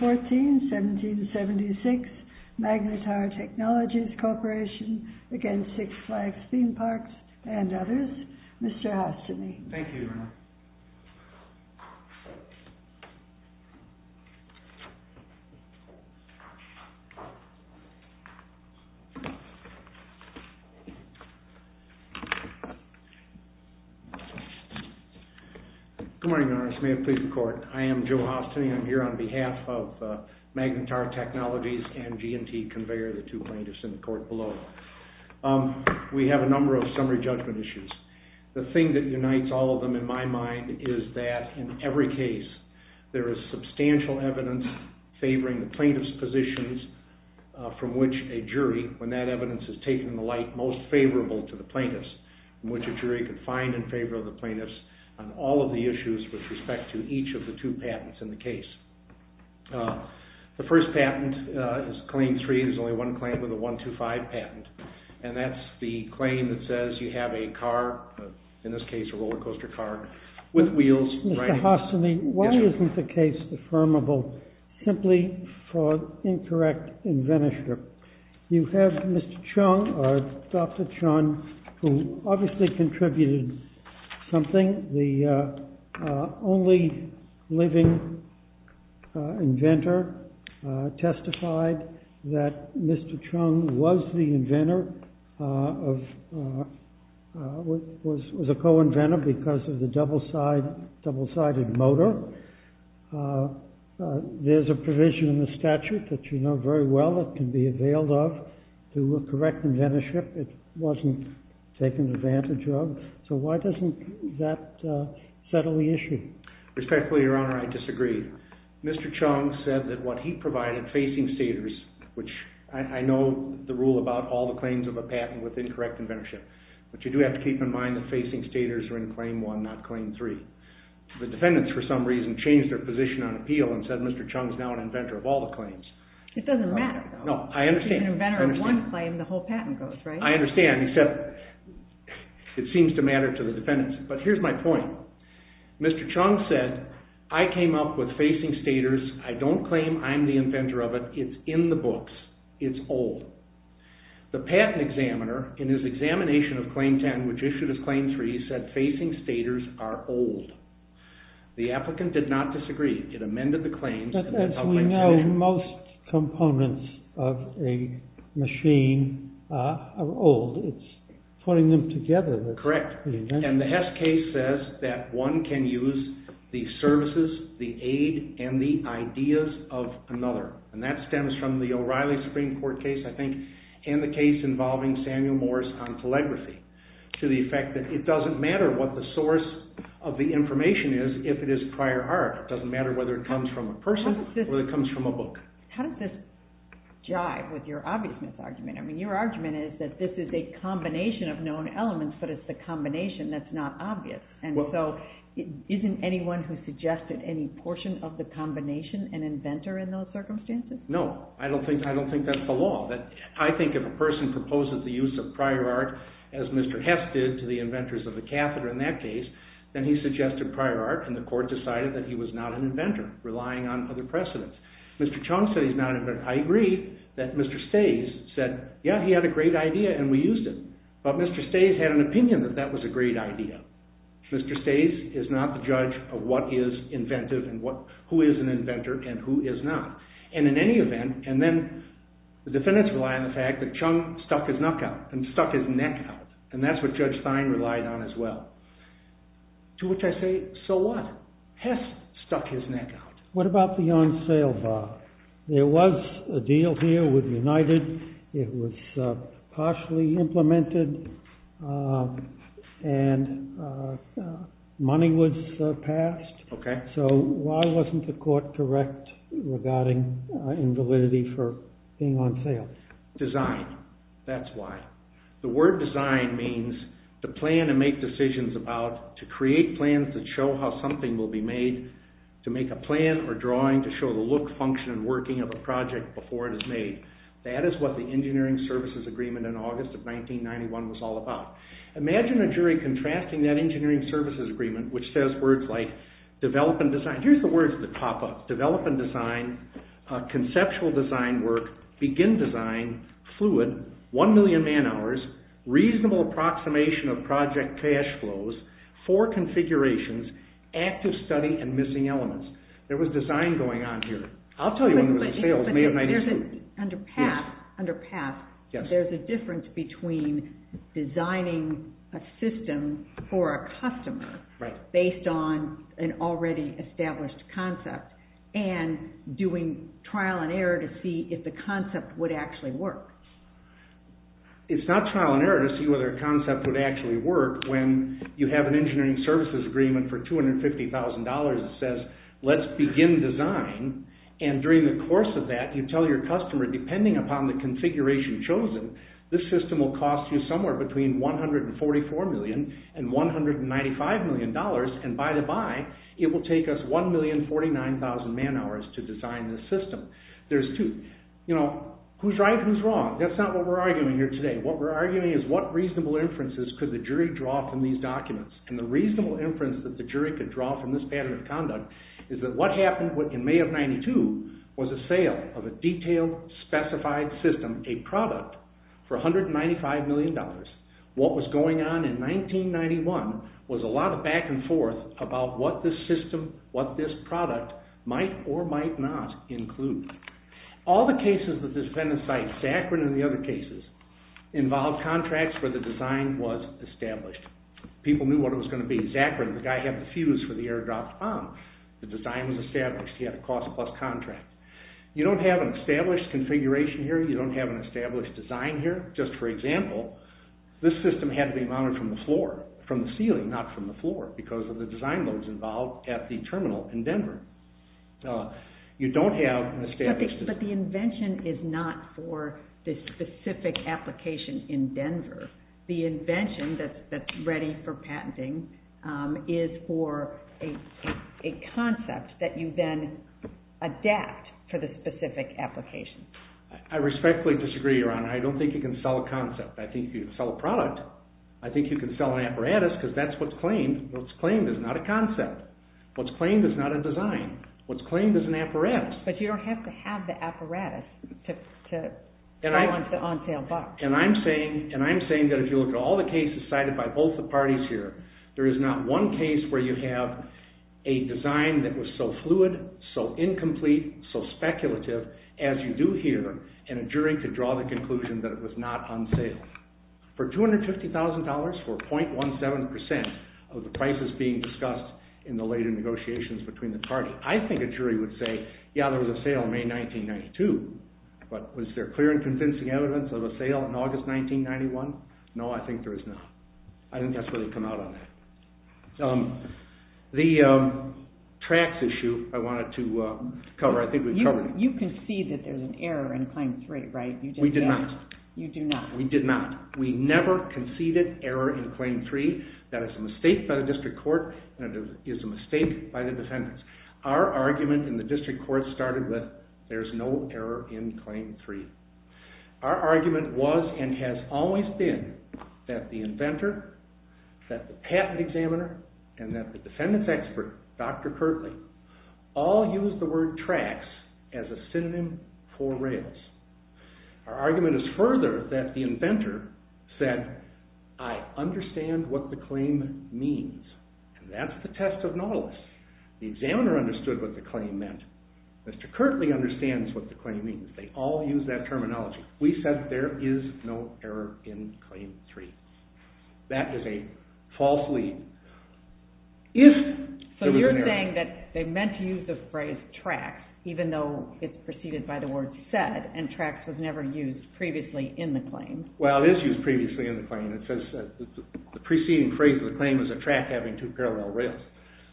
14-1776. v. Magnetar Technologies Corp. v. Six Flags Theme Parks, and others. Mr. Hastini. Thank you, Your Honor. Good morning, Your Honor. This may have pleased the court. I am Joe Hastini. I'm here on behalf of Magnetar Technologies and G&T Conveyor, the two plaintiffs in the court below. We have a number of summary judgment issues. The thing that unites all of them, in my mind, is that in every case there is substantial evidence favoring the plaintiff's positions from which a jury, when that evidence is taken in the light, most favorable to the plaintiffs, and which a jury can find in favor of the plaintiffs on all of the issues with respect to each of the two patents in the case. The first patent is Claim 3. There's only one claim with a 1-2-5 patent, and that's the claim that says you have a car, in this case a roller coaster car, with wheels. Mr. Hastini, why isn't the case affirmable simply for incorrect inventorship? You have Mr. Chung, or Dr. Chung, who obviously contributed something. The only living inventor testified that Mr. Chung was the inventor, was a co-inventor, because of the double-sided motor. There's a provision in the statute that you know very well that can be availed of to correct inventorship. It wasn't taken advantage of. So why doesn't that settle the issue? Respectfully, Your Honor, I disagree. Mr. Chung said that what he provided, facing staters, which I know the rule about all the claims of a patent with incorrect inventorship, but you do have to keep in mind that facing staters are in Claim 1, not Claim 3. The defendants, for some reason, changed their position on appeal and said Mr. Chung is now an inventor of all the claims. It doesn't matter, though. No, I understand. If you're an inventor of one claim, the whole patent goes, right? I understand, except it seems to matter to the defendants. But here's my point. Mr. Chung said, I came up with facing staters. I don't claim I'm the inventor of it. It's in the books. It's old. The patent examiner, in his examination of Claim 10, which issued as Claim 3, said facing staters are old. The applicant did not disagree. It amended the claims. But as we know, most components of a machine are old. It's putting them together. Correct. And the Hess case says that one can use the services, the aid, and the ideas of another. And that stems from the O'Reilly Supreme Court case, I think, and the case involving Samuel Morris on telegraphy, to the effect that it doesn't matter what the source of the information is if it is prior art. It doesn't matter whether it comes from a person or it comes from a book. How does this jive with your obviousness argument? I mean, your argument is that this is a combination of known elements, but it's the combination that's not obvious. Isn't anyone who suggested any portion of the combination an inventor in those circumstances? No. I don't think that's the law. I think if a person proposes the use of prior art, as Mr. Hess did to the inventors of the catheter in that case, then he suggested prior art and the court decided that he was not an inventor, relying on other precedents. Mr. Chong said he's not an inventor. I agree that Mr. Stays said, yeah, he had a great idea and we used it. But Mr. Stays had an opinion that that was a great idea. Mr. Stays is not the judge of what is inventive and who is an inventor and who is not. And in any event, and then the defendants rely on the fact that Chong stuck his neck out, and that's what Judge Stein relied on as well. To which I say, so what? Hess stuck his neck out. What about the on-sale bar? There was a deal here with United. It was partially implemented and money was passed. Okay. So why wasn't the court correct regarding invalidity for being on sale? Design. That's why. The word design means to plan and make decisions about, to create plans that show how something will be made, to make a plan or drawing to show the look, function, and working of a project before it is made. That is what the Engineering Services Agreement in August of 1991 was all about. Imagine a jury contrasting that Engineering Services Agreement, which says words like develop and design. Here's the words that pop up. Develop and design, conceptual design work, begin design, fluid, one million man hours, reasonable approximation of project cash flows, four configurations, active study, and missing elements. There was design going on here. I'll tell you when there was a sale. It was May of 1992. Under PATH, there's a difference between designing a system for a customer based on an already established concept and doing trial and error to see if the concept would actually work. It's not trial and error to see whether a concept would actually work when you have an Engineering Services Agreement for $250,000 that says, let's begin design, and during the course of that, you tell your customer, depending upon the configuration chosen, this system will cost you somewhere between $144 million and $195 million, and by the by, it will take us 1,049,000 man hours to design this system. There's two, you know, who's right and who's wrong. That's not what we're arguing here today. What we're arguing is what reasonable inferences could the jury draw from these documents, and the reasonable inference that the jury could draw from this pattern of conduct is that what happened in May of 1992 was a sale of a detailed, specified system, a product, for $195 million. What was going on in 1991 was a lot of back and forth about what this system, what this product might or might not include. All the cases that this defendant cites, Zachrin and the other cases, involve contracts where the design was established. People knew what it was going to be. Zachrin, the guy who had the fuse for the airdrop bomb, the design was established. He had a cost-plus contract. You don't have an established configuration here. You don't have an established design here. Just for example, this system had to be mounted from the floor, from the ceiling, not from the floor, because of the design loads involved at the terminal in Denver. You don't have an established... But the invention is not for the specific application in Denver. The invention that's ready for patenting is for a concept that you then adapt for the specific application. I respectfully disagree, Your Honor. I don't think you can sell a concept. I think you can sell a product. I think you can sell an apparatus, because that's what's claimed. What's claimed is not a concept. What's claimed is not a design. What's claimed is an apparatus. But you don't have to have the apparatus to silence the on-sale buck. And I'm saying that if you look at all the cases cited by both the parties here, there is not one case where you have a design that was so fluid, so incomplete, so speculative as you do here, and a jury could draw the conclusion that it was not on sale. For $250,000 for .17% of the prices being discussed in the later negotiations between the parties, I think a jury would say, yeah, there was a sale in May 1992, but was there clear and convincing evidence of a sale in August 1991? No, I think there is not. I don't think that's where they come out on that. The tracts issue I wanted to cover. I think we've covered it. You concede that there's an error in Claim 3, right? We did not. We never conceded error in Claim 3. That is a mistake by the district court, and it is a mistake by the defendants. Our argument in the district court started with, there's no error in Claim 3. Our argument was, and has always been, that the inventor, that the patent examiner, and that the defendants expert, Dr. Kirtley, all used the word tracts as a synonym for rails. Our argument is further that the inventor said, I understand what the claim means, and that's the test of Nautilus. The examiner understood what the claim meant. Mr. Kirtley understands what the claim means. They all use that terminology. We said there is no error in Claim 3. That is a false lead. So you're saying that they meant to use the phrase tracts, even though it's preceded by the word said, and tracts was never used previously in the claim. Well, it is used previously in the claim. It says that the preceding phrase of the claim is a tract having two parallel rails.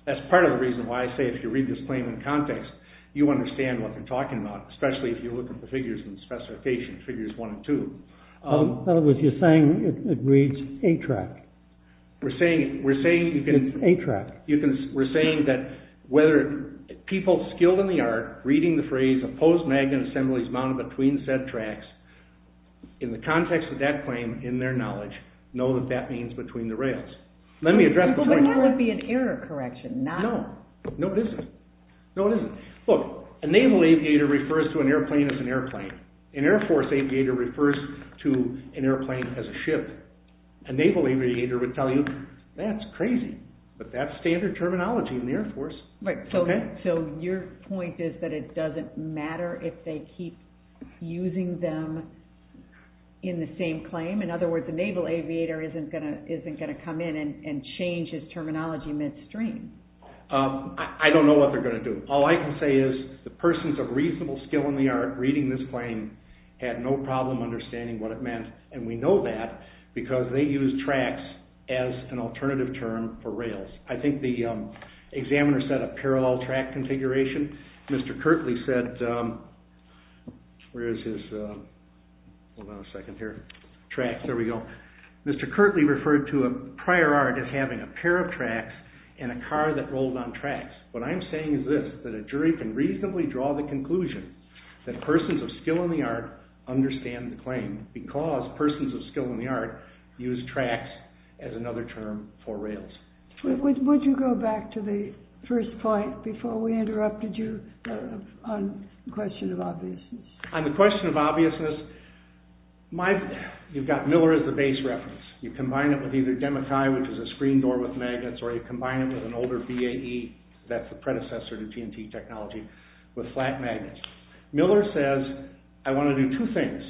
That's part of the reason why I say if you read this claim in context, you understand what they're talking about, especially if you look at the figures and specifications, Figures 1 and 2. In other words, you're saying it reads a tract. We're saying that whether people skilled in the art, reading the phrase, opposed magnet assemblies mounted between said tracts, in the context of that claim, in their knowledge, know that that means between the rails. Let me address the point here. But that would be an error correction, not... No, it isn't. Look, a naval aviator refers to an airplane as an airplane. An Air Force aviator refers to an airplane as a ship. A naval aviator would tell you, that's crazy, but that's standard terminology in the Air Force. So your point is that it doesn't matter if they keep using them in the same claim. In other words, a naval aviator isn't going to come in and change his terminology midstream. I don't know what they're going to do. All I can say is, the persons of reasonable skill in the art reading this claim had no problem understanding what it meant. And we know that because they used tracts as an alternative term for rails. I think the examiner said a parallel tract configuration. Mr. Kirtley said... Where is his... Hold on a second here. Tracts, there we go. Mr. Kirtley referred to a prior art as having a pair of tracts and a car that rolled on tracts. What I'm saying is this, that a jury can reasonably draw the conclusion that persons of skill in the art understand the claim because persons of skill in the art use tracts as another term for rails. Would you go back to the first point before we interrupted you on the question of obviousness? On the question of obviousness, you've got Miller as the base reference. You combine it with either DEMACAI, which is a screen door with magnets, or you combine it with an older VAE, that's the predecessor to TNT technology, with flat magnets. Miller says, I want to do two things.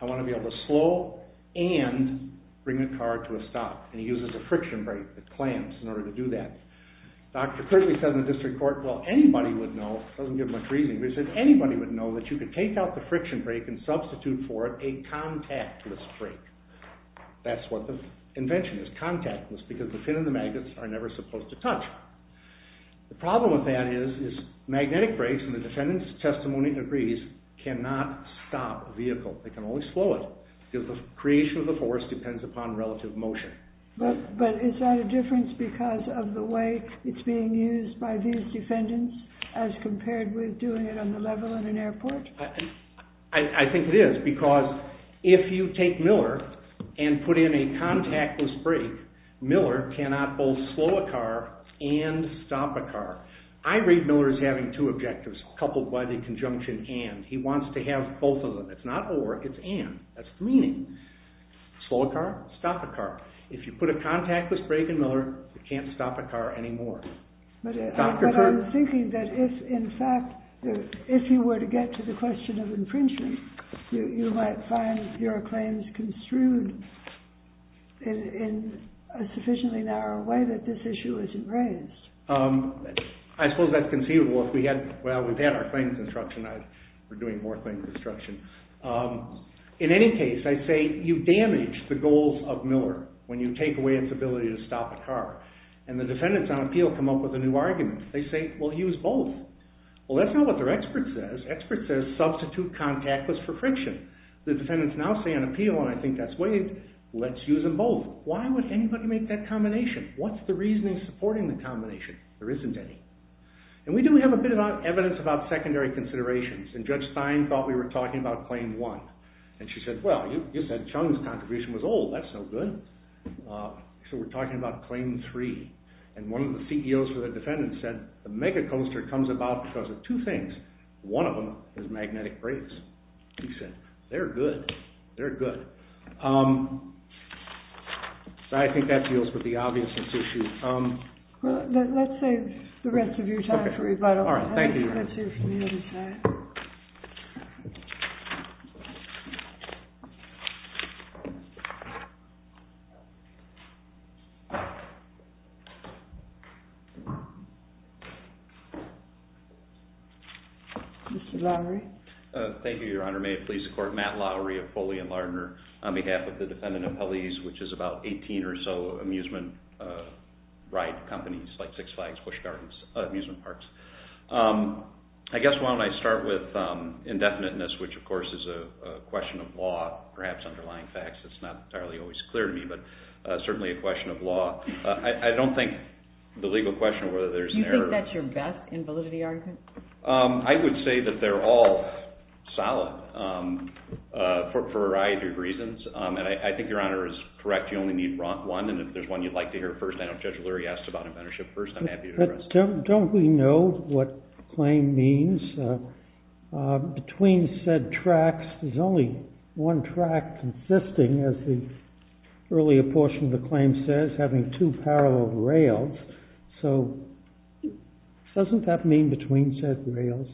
I want to be able to slow and bring a car to a stop. And he uses a friction brake, the clamps, in order to do that. Dr. Kirtley said in the district court, well, anybody would know, doesn't give much reasoning, but he said anybody would know that you could take out the friction brake and substitute for it a contactless brake. That's what the invention is, contactless, because the pin and the magnets are never supposed to touch. The problem with that is magnetic brakes, and the defendant's testimony agrees, cannot stop a vehicle. They can only slow it, because the creation of the force depends upon relative motion. But is that a difference because of the way it's being used by these defendants, as compared with doing it on the level in an airport? I think it is, because if you take Miller and put in a contactless brake, Miller cannot both slow a car and stop a car. I read Miller as having two objectives, coupled by the conjunction and. He wants to have both of them. It's not or, it's and. That's the meaning. Slow a car, stop a car. If you put a contactless brake in Miller, you can't stop a car anymore. But I'm thinking that if, in fact, if you were to get to the question of infringement, you might find your claims construed in a sufficiently narrow way that this issue isn't raised. I suppose that's conceivable if we had, well, we've had our claims instruction, we're doing more claims instruction. In any case, I'd say you damage the goals of Miller when you take away its ability to stop a car. And the defendants on appeal come up with a new argument. They say, well, use both. Well, that's not what their expert says. Expert says substitute contactless for friction. The defendants now say on appeal, and I think that's waived, let's use them both. Why would anybody make that combination? What's the reasoning supporting the combination? There isn't any. And we do have a bit of evidence about secondary considerations. And Judge Stein thought we were talking about Claim 1. And she said, well, you said Chung's contribution was old. That's no good. So we're talking about Claim 3. And one of the CEOs for the defendants said the mega coaster comes about because of two things. One of them is magnetic brakes. He said, they're good. They're good. So I think that deals with the obviousness issue. Let's save the rest of your time for rebuttal. Mr. Lowery. Thank you, Your Honor. May it please the Court, Matt Lowery of Foley and Lardner, on behalf of the Defendant Appellees, which is about 18 or so amusement ride companies like Six Flags, Busch Gardens, amusement parks. I guess why don't I start with indefiniteness, which of course is a question of law, perhaps underlying facts. It's not entirely always clear to me, but certainly a question of law. I don't think the legal question of whether there's an error... Do you think that's your best invalidity argument? I would say that they're all solid for a variety of reasons. And I think Your Honor is correct. You only need one. And if there's one you'd like to hear first, I know Judge Lowery asked about inventorship first. I'm happy to address that. But don't we know what claim means? Between said tracks, there's only one track consisting, as the earlier portion of the claim says, having two parallel rails. So doesn't that mean between said rails?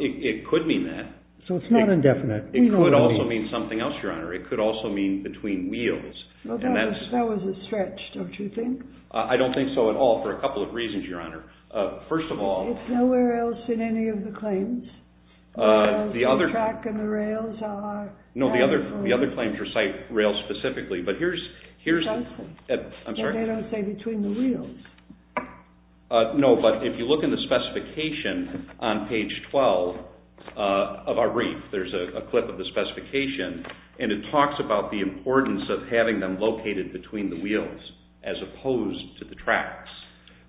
It could mean that. So it's not indefinite. It could also mean something else, Your Honor. It could also mean between wheels. That was a stretch, don't you think? I don't think so at all, for a couple of reasons, Your Honor. First of all... It's nowhere else in any of the claims. The other... The track and the rails are... No, the other claims recite rails specifically, but here's... They don't say between the wheels. No, but if you look in the specification on page 12 of our brief, there's a clip of the specification, and it talks about the importance of having them located between the wheels as opposed to the tracks,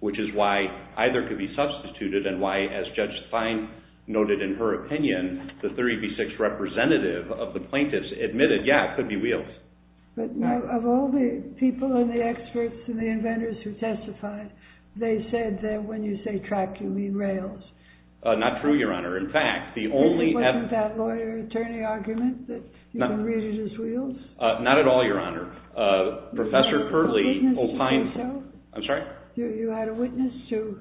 which is why either could be substituted and why, as Judge Fein noted in her opinion, the 30B6 representative of the plaintiffs admitted, yeah, it could be wheels. But of all the people and the experts and the inventors who testified, they said that when you say track, you mean rails. Not true, Your Honor. In fact, the only... It wasn't that lawyer-attorney argument that you can read it as wheels? Not at all, Your Honor. Professor Curley opined... Witnesses say so? I'm sorry? You had a witness who...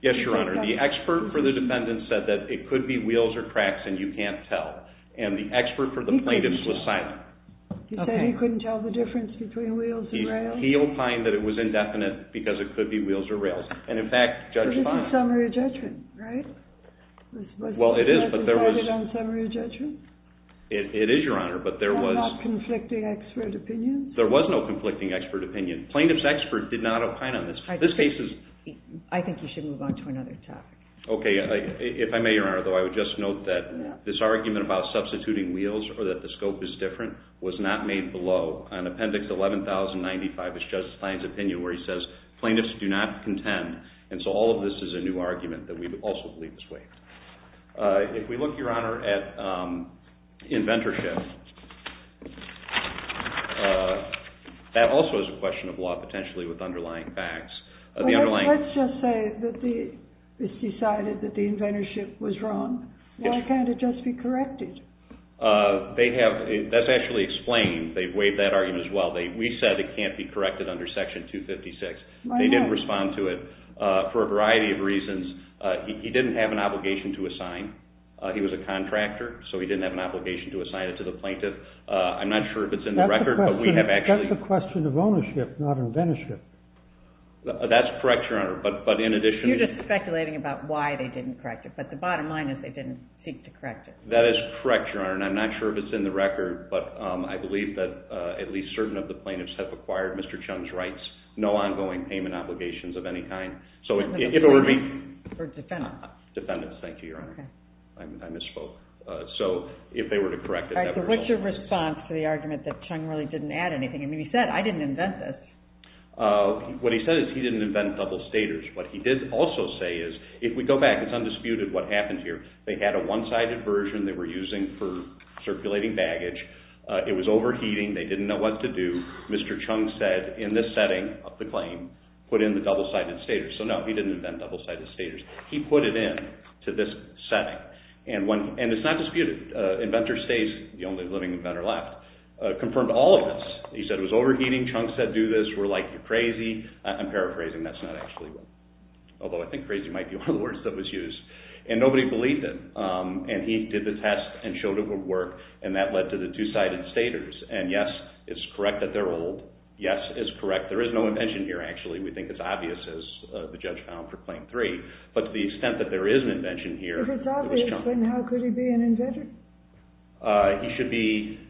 Yes, Your Honor. The expert for the defendants said that it could be wheels or tracks and you can't tell, and the expert for the plaintiffs was silent. He said he couldn't tell the difference between wheels and rails? He opined that it was indefinite because it could be wheels or rails, and in fact, Judge Fein... This is a summary of judgment, right? Well, it is, but there was... This wasn't decided on summary of judgment? It is, Your Honor, but there was... There were no conflicting expert opinions? There was no conflicting expert opinion. Plaintiff's expert did not opine on this. This case is... I think you should move on to another topic. Okay. If I may, Your Honor, though, I would just note that this argument about substituting wheels or that the scope is different was not made below. On Appendix 11,095 is Judge Fein's opinion where he says plaintiffs do not contend, and so all of this is a new argument that we also believe this way. If we look, Your Honor, at inventorship, that also is a question of law, potentially, with underlying facts. Let's just say that it's decided that the inventorship was wrong. Why can't it just be corrected? They have... That's actually explained. They've waived that argument as well. We said it can't be corrected under Section 256. They didn't respond to it for a variety of reasons. He didn't have an obligation to assign. He was a contractor, so he didn't have an obligation to assign it to the plaintiff. I'm not sure if it's in the record, but we have actually... That's a question of ownership, not inventorship. That's correct, Your Honor, but in addition... We're just speculating about why they didn't correct it, but the bottom line is they didn't seek to correct it. That is correct, Your Honor, and I'm not sure if it's in the record, but I believe that at least certain of the plaintiffs have acquired Mr. Chung's rights, no ongoing payment obligations of any kind. So it would be... Or defendants. Defendants, thank you, Your Honor. I misspoke. So if they were to correct it... All right, so what's your response to the argument that Chung really didn't add anything? I mean, he said, I didn't invent this. What he said is he didn't invent double staters. What he did also say is, if we go back, it's undisputed what happened here. They had a one-sided version they were using for circulating baggage. It was overheating. They didn't know what to do. Mr. Chung said, in this setting of the claim, put in the double-sided staters. So no, he didn't invent double-sided staters. He put it in to this setting, and it's not disputed. Inventor stays the only living inventor left. Confirmed all of this. Chung said do this. We're like, you're crazy. I'm paraphrasing. That's not actually what... Although I think crazy might be one of the words that was used. And nobody believed him. And he did the test and showed it would work, and that led to the two-sided staters. And yes, it's correct that they're old. Yes, it's correct. There is no invention here, actually. We think it's obvious, as the judge found for Claim 3. But to the extent that there is an invention here... If it's obvious, then how could he be an inventor? He should be...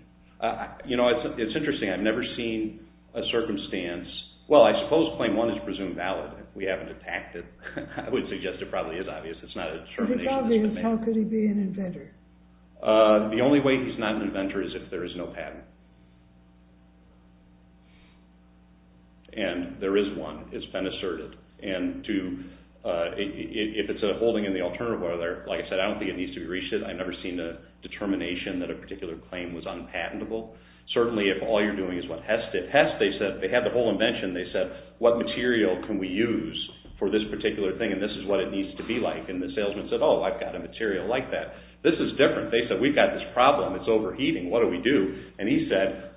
You know, it's interesting. I've never seen a circumstance... Well, I suppose Claim 1 is presumed valid. We haven't attacked it. I would suggest it probably is obvious. It's not a determination. If it's obvious, how could he be an inventor? The only way he's not an inventor is if there is no patent. And there is one. It's been asserted. And if it's a holding in the alternative order, like I said, I don't think it needs to be reshifted. I've never seen a determination that a particular claim was unpatentable. Certainly, if all you're doing is what Hess did. In Hess, they had the whole invention. They said, what material can we use for this particular thing? And this is what it needs to be like. And the salesman said, oh, I've got a material like that. This is different. They said, we've got this problem. It's overheating. What do we do? And he said,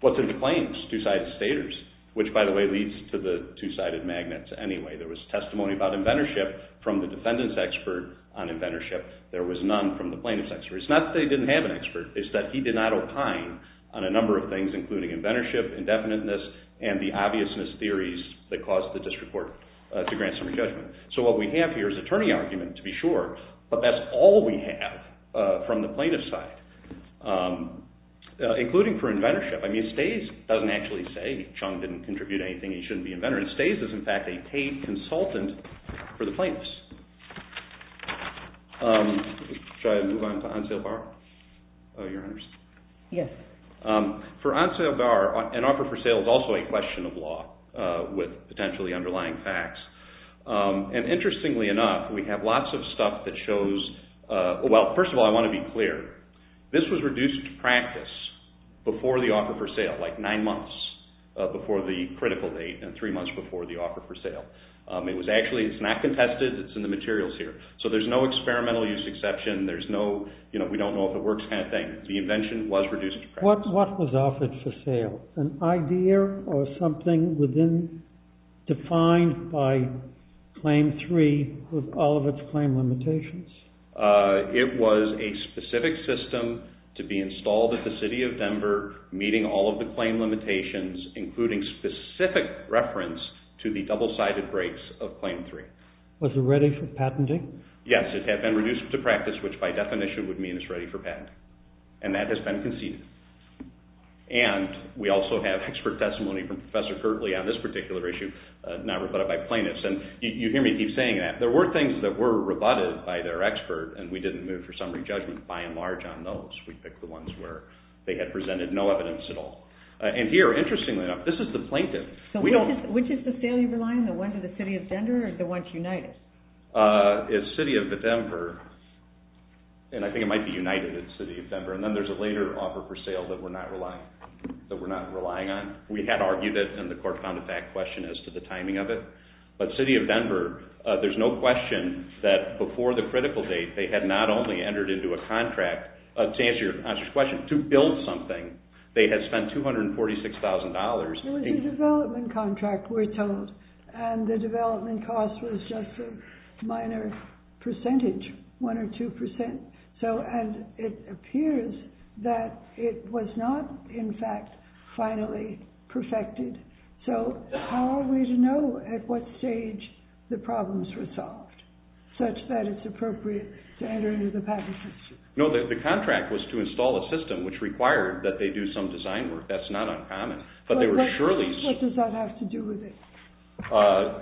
what's in the claims? Two-sided staters. Which, by the way, leads to the two-sided magnets anyway. There was testimony about inventorship from the defendant's expert on inventorship. There was none from the plaintiff's expert. It's not that they didn't have an expert. It's that he did not opine on a number of things, including inventorship, indefiniteness, and the obviousness theories that caused the district court to grant some re-judgment. So what we have here is attorney argument, to be sure. But that's all we have from the plaintiff's side, including for inventorship. I mean, Stays doesn't actually say Chung didn't contribute anything. He shouldn't be inventor. And Stays is, in fact, a paid consultant for the plaintiffs. Should I move on to on-sale bar? Your Honors. Yes. For on-sale bar, an offer for sale is also a question of law with potentially underlying facts. And interestingly enough, we have lots of stuff that shows, well, first of all, I want to be clear. This was reduced to practice before the offer for sale, like nine months before the critical date and three months before the offer for sale. It was actually, it's not contested. It's in the materials here. So there's no experimental use exception. There's no, you know, we don't know if it works kind of thing. The invention was reduced to practice. What was offered for sale? An idea or something within, defined by Claim 3 with all of its claim limitations? It was a specific system to be installed at the City of Denver, meeting all of the claim limitations, including specific reference to the double-sided breaks of Claim 3. Was it ready for patenting? Yes, it had been reduced to practice, which by definition would mean it's ready for patenting. And that has been conceded. And we also have expert testimony from Professor Kirtley on this particular issue, not rebutted by plaintiffs. And you hear me keep saying that. There were things that were rebutted by their expert, and we didn't move for summary judgment by and large on those. We picked the ones where they had presented no evidence at all. And here, interestingly enough, this is the plaintiff. Which is the sale you're relying on, the one to the City of Denver or the one to United? It's City of Denver, and I think it might be United at the City of Denver. And then there's a later offer for sale that we're not relying on. We had argued it in the court-founded fact question as to the timing of it. But City of Denver, there's no question that before the critical date, they had not only entered into a contract to answer your question, to build something, they had spent $246,000. It was a development contract, we're told. And the development cost was just a minor percentage, one or two percent. And it appears that it was not, in fact, finally perfected. So how are we to know at what stage the problems were solved, such that it's appropriate to enter into the patent system? No, the contract was to install a system which required that they do some design work. That's not uncommon. But what does that have to do with it?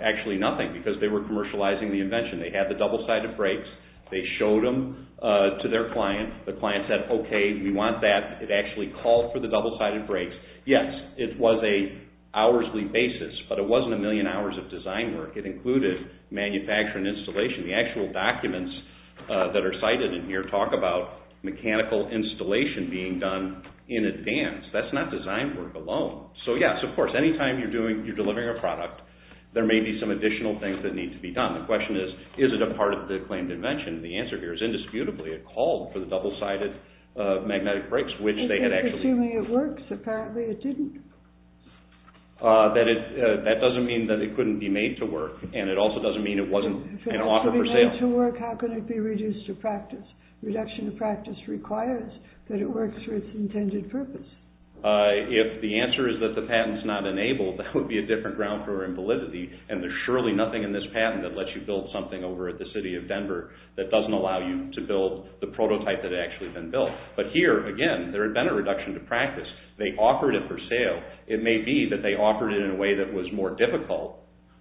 Actually nothing, because they were commercializing the invention. They had the double-sided brakes. They showed them to their client. The client said, okay, we want that. It actually called for the double-sided brakes. Yes, it was a hoursly basis, but it wasn't a million hours of design work. It included manufacturing and installation. The actual documents that are cited in here talk about mechanical installation being done in advance. That's not design work alone. So yes, of course, any time you're delivering a product, there may be some additional things that need to be done. The question is, is it a part of the claimed invention? The answer here is, indisputably, it called for the double-sided magnetic brakes, which they had actually... Assuming it works, apparently it didn't. That doesn't mean that it couldn't be made to work, and it also doesn't mean it wasn't an offer for sale. If it had to be made to work, how could it be reduced to practice? If the answer is that the patent's not enabled, that would be a different ground for invalidity, and there's surely nothing in this patent that lets you build something over at the city of Denver that doesn't allow you to build the prototype that had actually been built. But here, again, there had been a reduction to practice. They offered it for sale. It may be that they offered it in a way that was more difficult,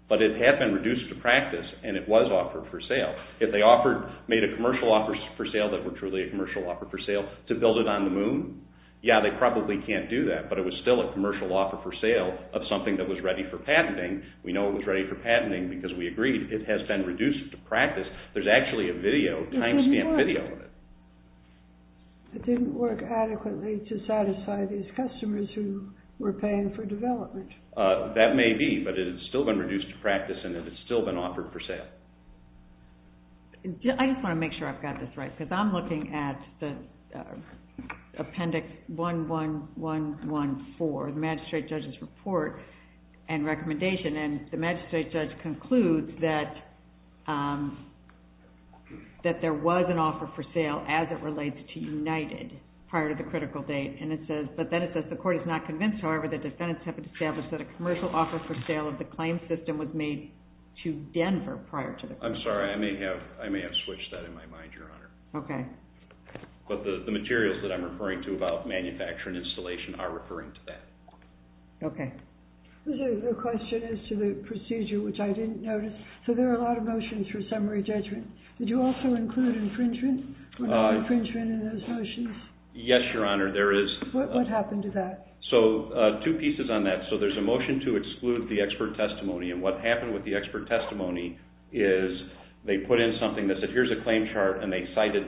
but it had been reduced to practice, and it was offered for sale. If they made a commercial offer for sale that were truly a commercial offer for sale to build it on the moon, yeah, they probably can't do that, but it was still a commercial offer for sale of something that was ready for patenting. We know it was ready for patenting because we agreed it has been reduced to practice. There's actually a video, time-stamped video of it. It didn't work adequately to satisfy these customers who were paying for development. That may be, but it had still been reduced to practice, and it had still been offered for sale. I just want to make sure I've got this right because I'm looking at Appendix 11114, the magistrate judge's report and recommendation, and the magistrate judge concludes that there was an offer for sale as it relates to United prior to the critical date, but then it says the court is not convinced, however, the defendants have established that a commercial offer for sale of the claim system was made to Denver prior to the... I'm sorry. I may have switched that in my mind, Your Honor. Okay. But the materials that I'm referring to about manufacturing installation are referring to that. Okay. The question is to the procedure, which I didn't notice. So there are a lot of motions for summary judgment. Did you also include infringement? Was there infringement in those motions? Yes, Your Honor, there is. What happened to that? So two pieces on that. So there's a motion to exclude the expert testimony, and what happened with the expert testimony is they put in something that said here's a claim chart, and they cited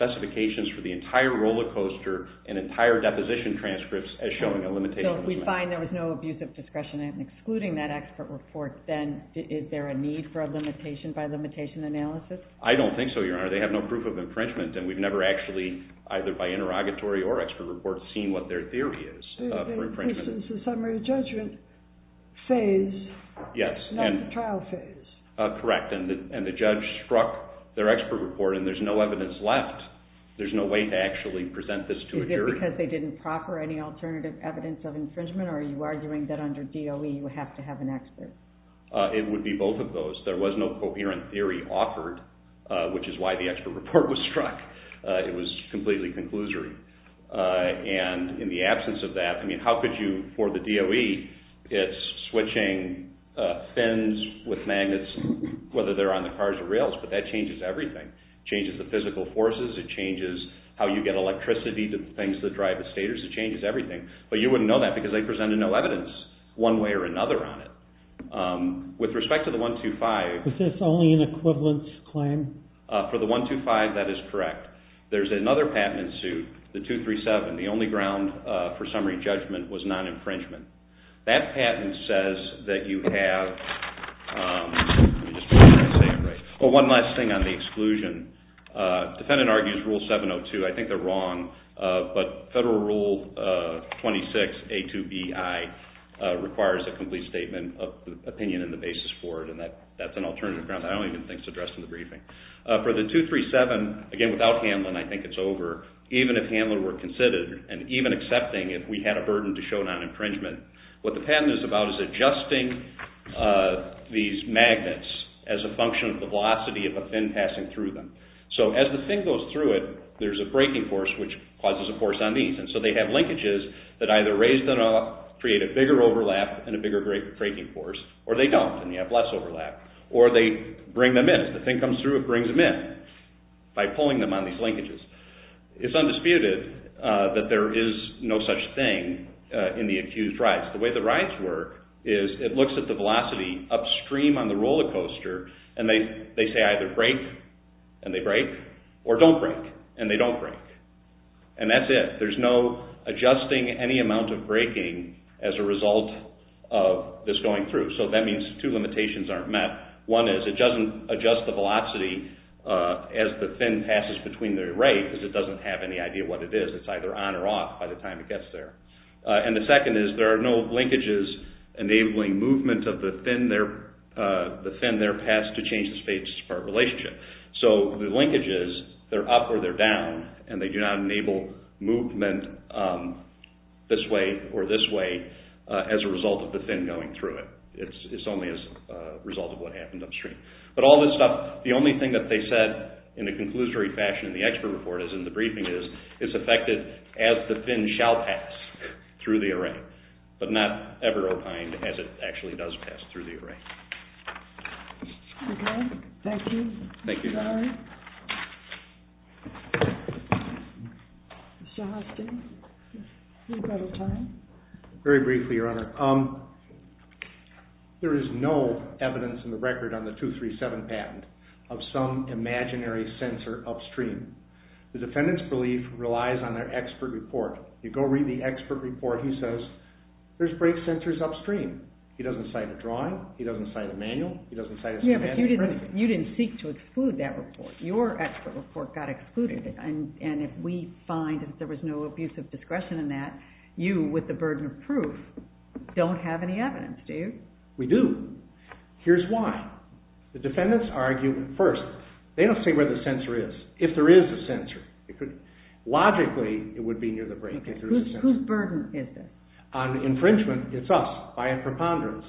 specifications for the entire roller coaster and entire deposition transcripts as showing a limitation. So if we find there was no abuse of discretion in excluding that expert report, then is there a need for a limitation by limitation analysis? I don't think so, Your Honor. They have no proof of infringement, and we've never actually either by interrogatory or expert report seen what their theory is for infringement. So this is the summary judgment phase, not the trial phase. Yes, correct. And the judge struck their expert report, and there's no evidence left. There's no way to actually present this to a jury. Is it because they didn't proper any alternative evidence of infringement, or are you arguing that under DOE you have to have an expert? It would be both of those. There was no coherent theory offered, which is why the expert report was struck. It was completely conclusory. And in the absence of that, I mean, how could you, for the DOE, it's switching fins with magnets whether they're on the cars or rails, but that changes everything. It changes the physical forces. It changes how you get electricity to the things that drive the stators. It changes everything. But you wouldn't know that because they presented no evidence one way or another on it. With respect to the 125. Is this only an equivalence claim? For the 125, that is correct. There's another patent in suit, the 237. The only ground for summary judgment was non-infringement. That patent says that you have, let me just make sure I say it right. Oh, one last thing on the exclusion. Defendant argues Rule 702. I think they're wrong. But Federal Rule 26A2BI requires a complete statement of opinion and the basis for it, and that's an alternative ground I don't even think is addressed in the briefing. For the 237, again, without handling, I think it's over, even if handling were considered and even accepting if we had a burden to show non-infringement, what the patent is about is adjusting these magnets as a function of the velocity of a fin passing through them. As the fin goes through it, there's a braking force which causes a force on these. So they have linkages that either raise them up, create a bigger overlap and a bigger braking force, or they don't and you have less overlap. Or they bring them in. If the fin comes through, it brings them in by pulling them on these linkages. It's undisputed that there is no such thing in the accused rides. The way the rides work is it looks at the velocity upstream on the roller coaster and they say either brake and they brake or don't brake and they don't brake. And that's it. There's no adjusting any amount of braking as a result of this going through. So that means two limitations aren't met. One is it doesn't adjust the velocity as the fin passes between the right because it doesn't have any idea what it is. It's either on or off by the time it gets there. And the second is there are no linkages enabling movement of the fin there, the fin there passed to change the space relationship. So the linkages, they're up or they're down and they do not enable movement this way or this way as a result of the fin going through it. It's only as a result of what happened upstream. But all this stuff, the only thing that they said in a conclusory fashion in the expert report as in the briefing is it's affected as the fin shall pass through the array but not ever opined as it actually does pass through the array. Okay, thank you. Thank you. Mr. Austin, we've run out of time. Very briefly, Your Honor. There is no evidence in the record on the 237 patent of some imaginary sensor upstream. The defendant's belief relies on their expert report. You go read the expert report. He says there's brake sensors upstream. He doesn't cite a drawing. He doesn't cite a manual. He doesn't cite a standard print. Yeah, but you didn't seek to exclude that report. Your expert report got excluded. And if we find that there was no abuse of discretion in that, you with the burden of proof don't have any evidence, do you? We do. Here's why. The defendants argue first. They don't say where the sensor is. If there is a sensor, logically it would be near the brake. Whose burden is it? On infringement, it's us by a preponderance.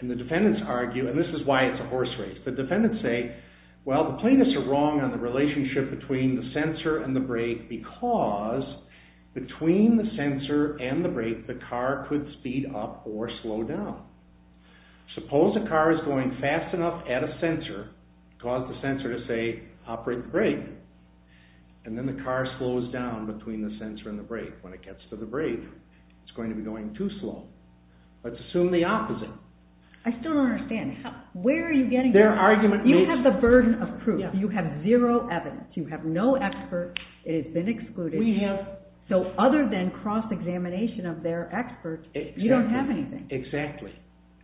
And the defendants argue, and this is why it's a horse race. The defendants say, well, the plaintiffs are wrong on the relationship between the sensor and the brake because between the sensor and the brake the car could speed up or slow down. Suppose a car is going fast enough at a sensor, cause the sensor to say operate the brake, and then the car slows down between the sensor and the brake. When it gets to the brake, it's going to be going too slow. Let's assume the opposite. I still don't understand. Where are you getting that? You have the burden of proof. You have zero evidence. You have no expert. It has been excluded. So other than cross-examination of their experts, you don't have anything. Exactly.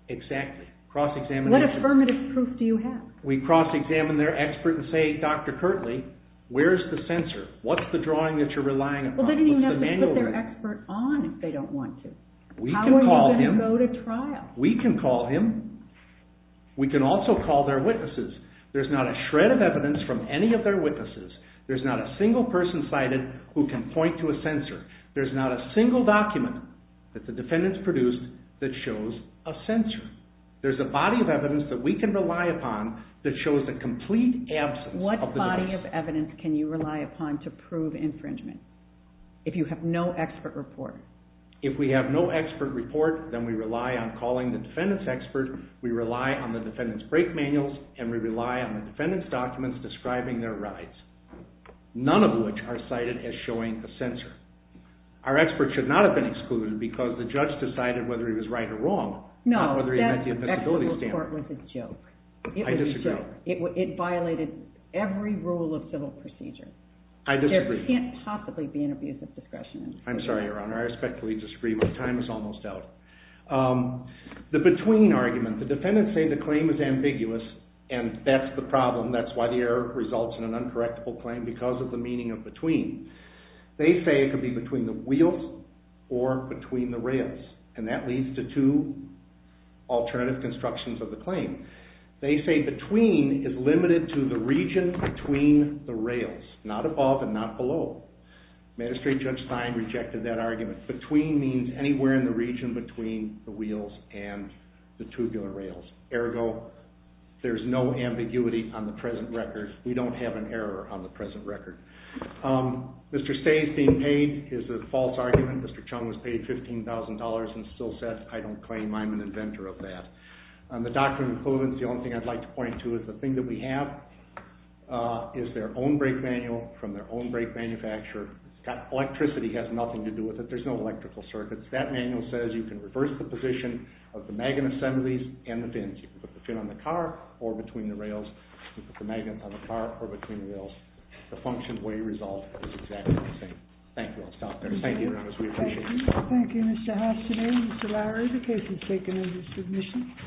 Exactly. Cross-examination. What affirmative proof do you have? We cross-examine their expert and say, Dr. Kirtley, where's the sensor? What's the drawing that you're relying upon? Well, they don't even have to put their expert on if they don't want to. How are you going to go to trial? We can call him. We can also call their witnesses. There's not a shred of evidence from any of their witnesses. There's not a single person cited who can point to a sensor. There's not a single document that the defendants produced that shows a sensor. There's a body of evidence that we can rely upon that shows the complete absence of the device. What body of evidence can you rely upon to prove infringement if you have no expert report? If we have no expert report, then we rely on calling the defendant's expert, we rely on the defendant's brake manuals, and we rely on the defendant's documents describing their rides, none of which are cited as showing a sensor. Our expert should not have been excluded because the judge decided whether he was right or wrong, not whether he met the admissibility standard. No, that expert report was a joke. I disagree. It violated every rule of civil procedure. I disagree. There can't possibly be an abuse of discretion. I'm sorry, Your Honor. I respectfully disagree. My time is almost out. The between argument. The defendants say the claim is ambiguous, and that's the problem. That's why the error results in an uncorrectable claim because of the meaning of between. They say it could be between the wheels or between the rails, and that leads to two alternative constructions of the claim. They say between is limited to the region between the rails, not above and not below. Administrative Judge Stein rejected that argument. Between means anywhere in the region between the wheels and the tubular rails. Ergo, there's no ambiguity on the present record. We don't have an error on the present record. Mr. Say's being paid is a false argument. Mr. Chung was paid $15,000 and still says, I don't claim. I'm an inventor of that. The doctrine of equivalence, the only thing I'd like to point to is the thing that we have is their own brake manual from their own brake manufacturer. That electricity has nothing to do with it. There's no electrical circuits. That manual says you can reverse the position of the magnet assemblies and the fins. You can put the fin on the car or between the rails. You can put the magnets on the car or between the rails. The function where you resolve is exactly the same. Thank you. I'll stop there. Thank you very much. We appreciate it. Thank you. Thank you, Mr. Hastaday. Mr. Lowry, the case is taken under submission.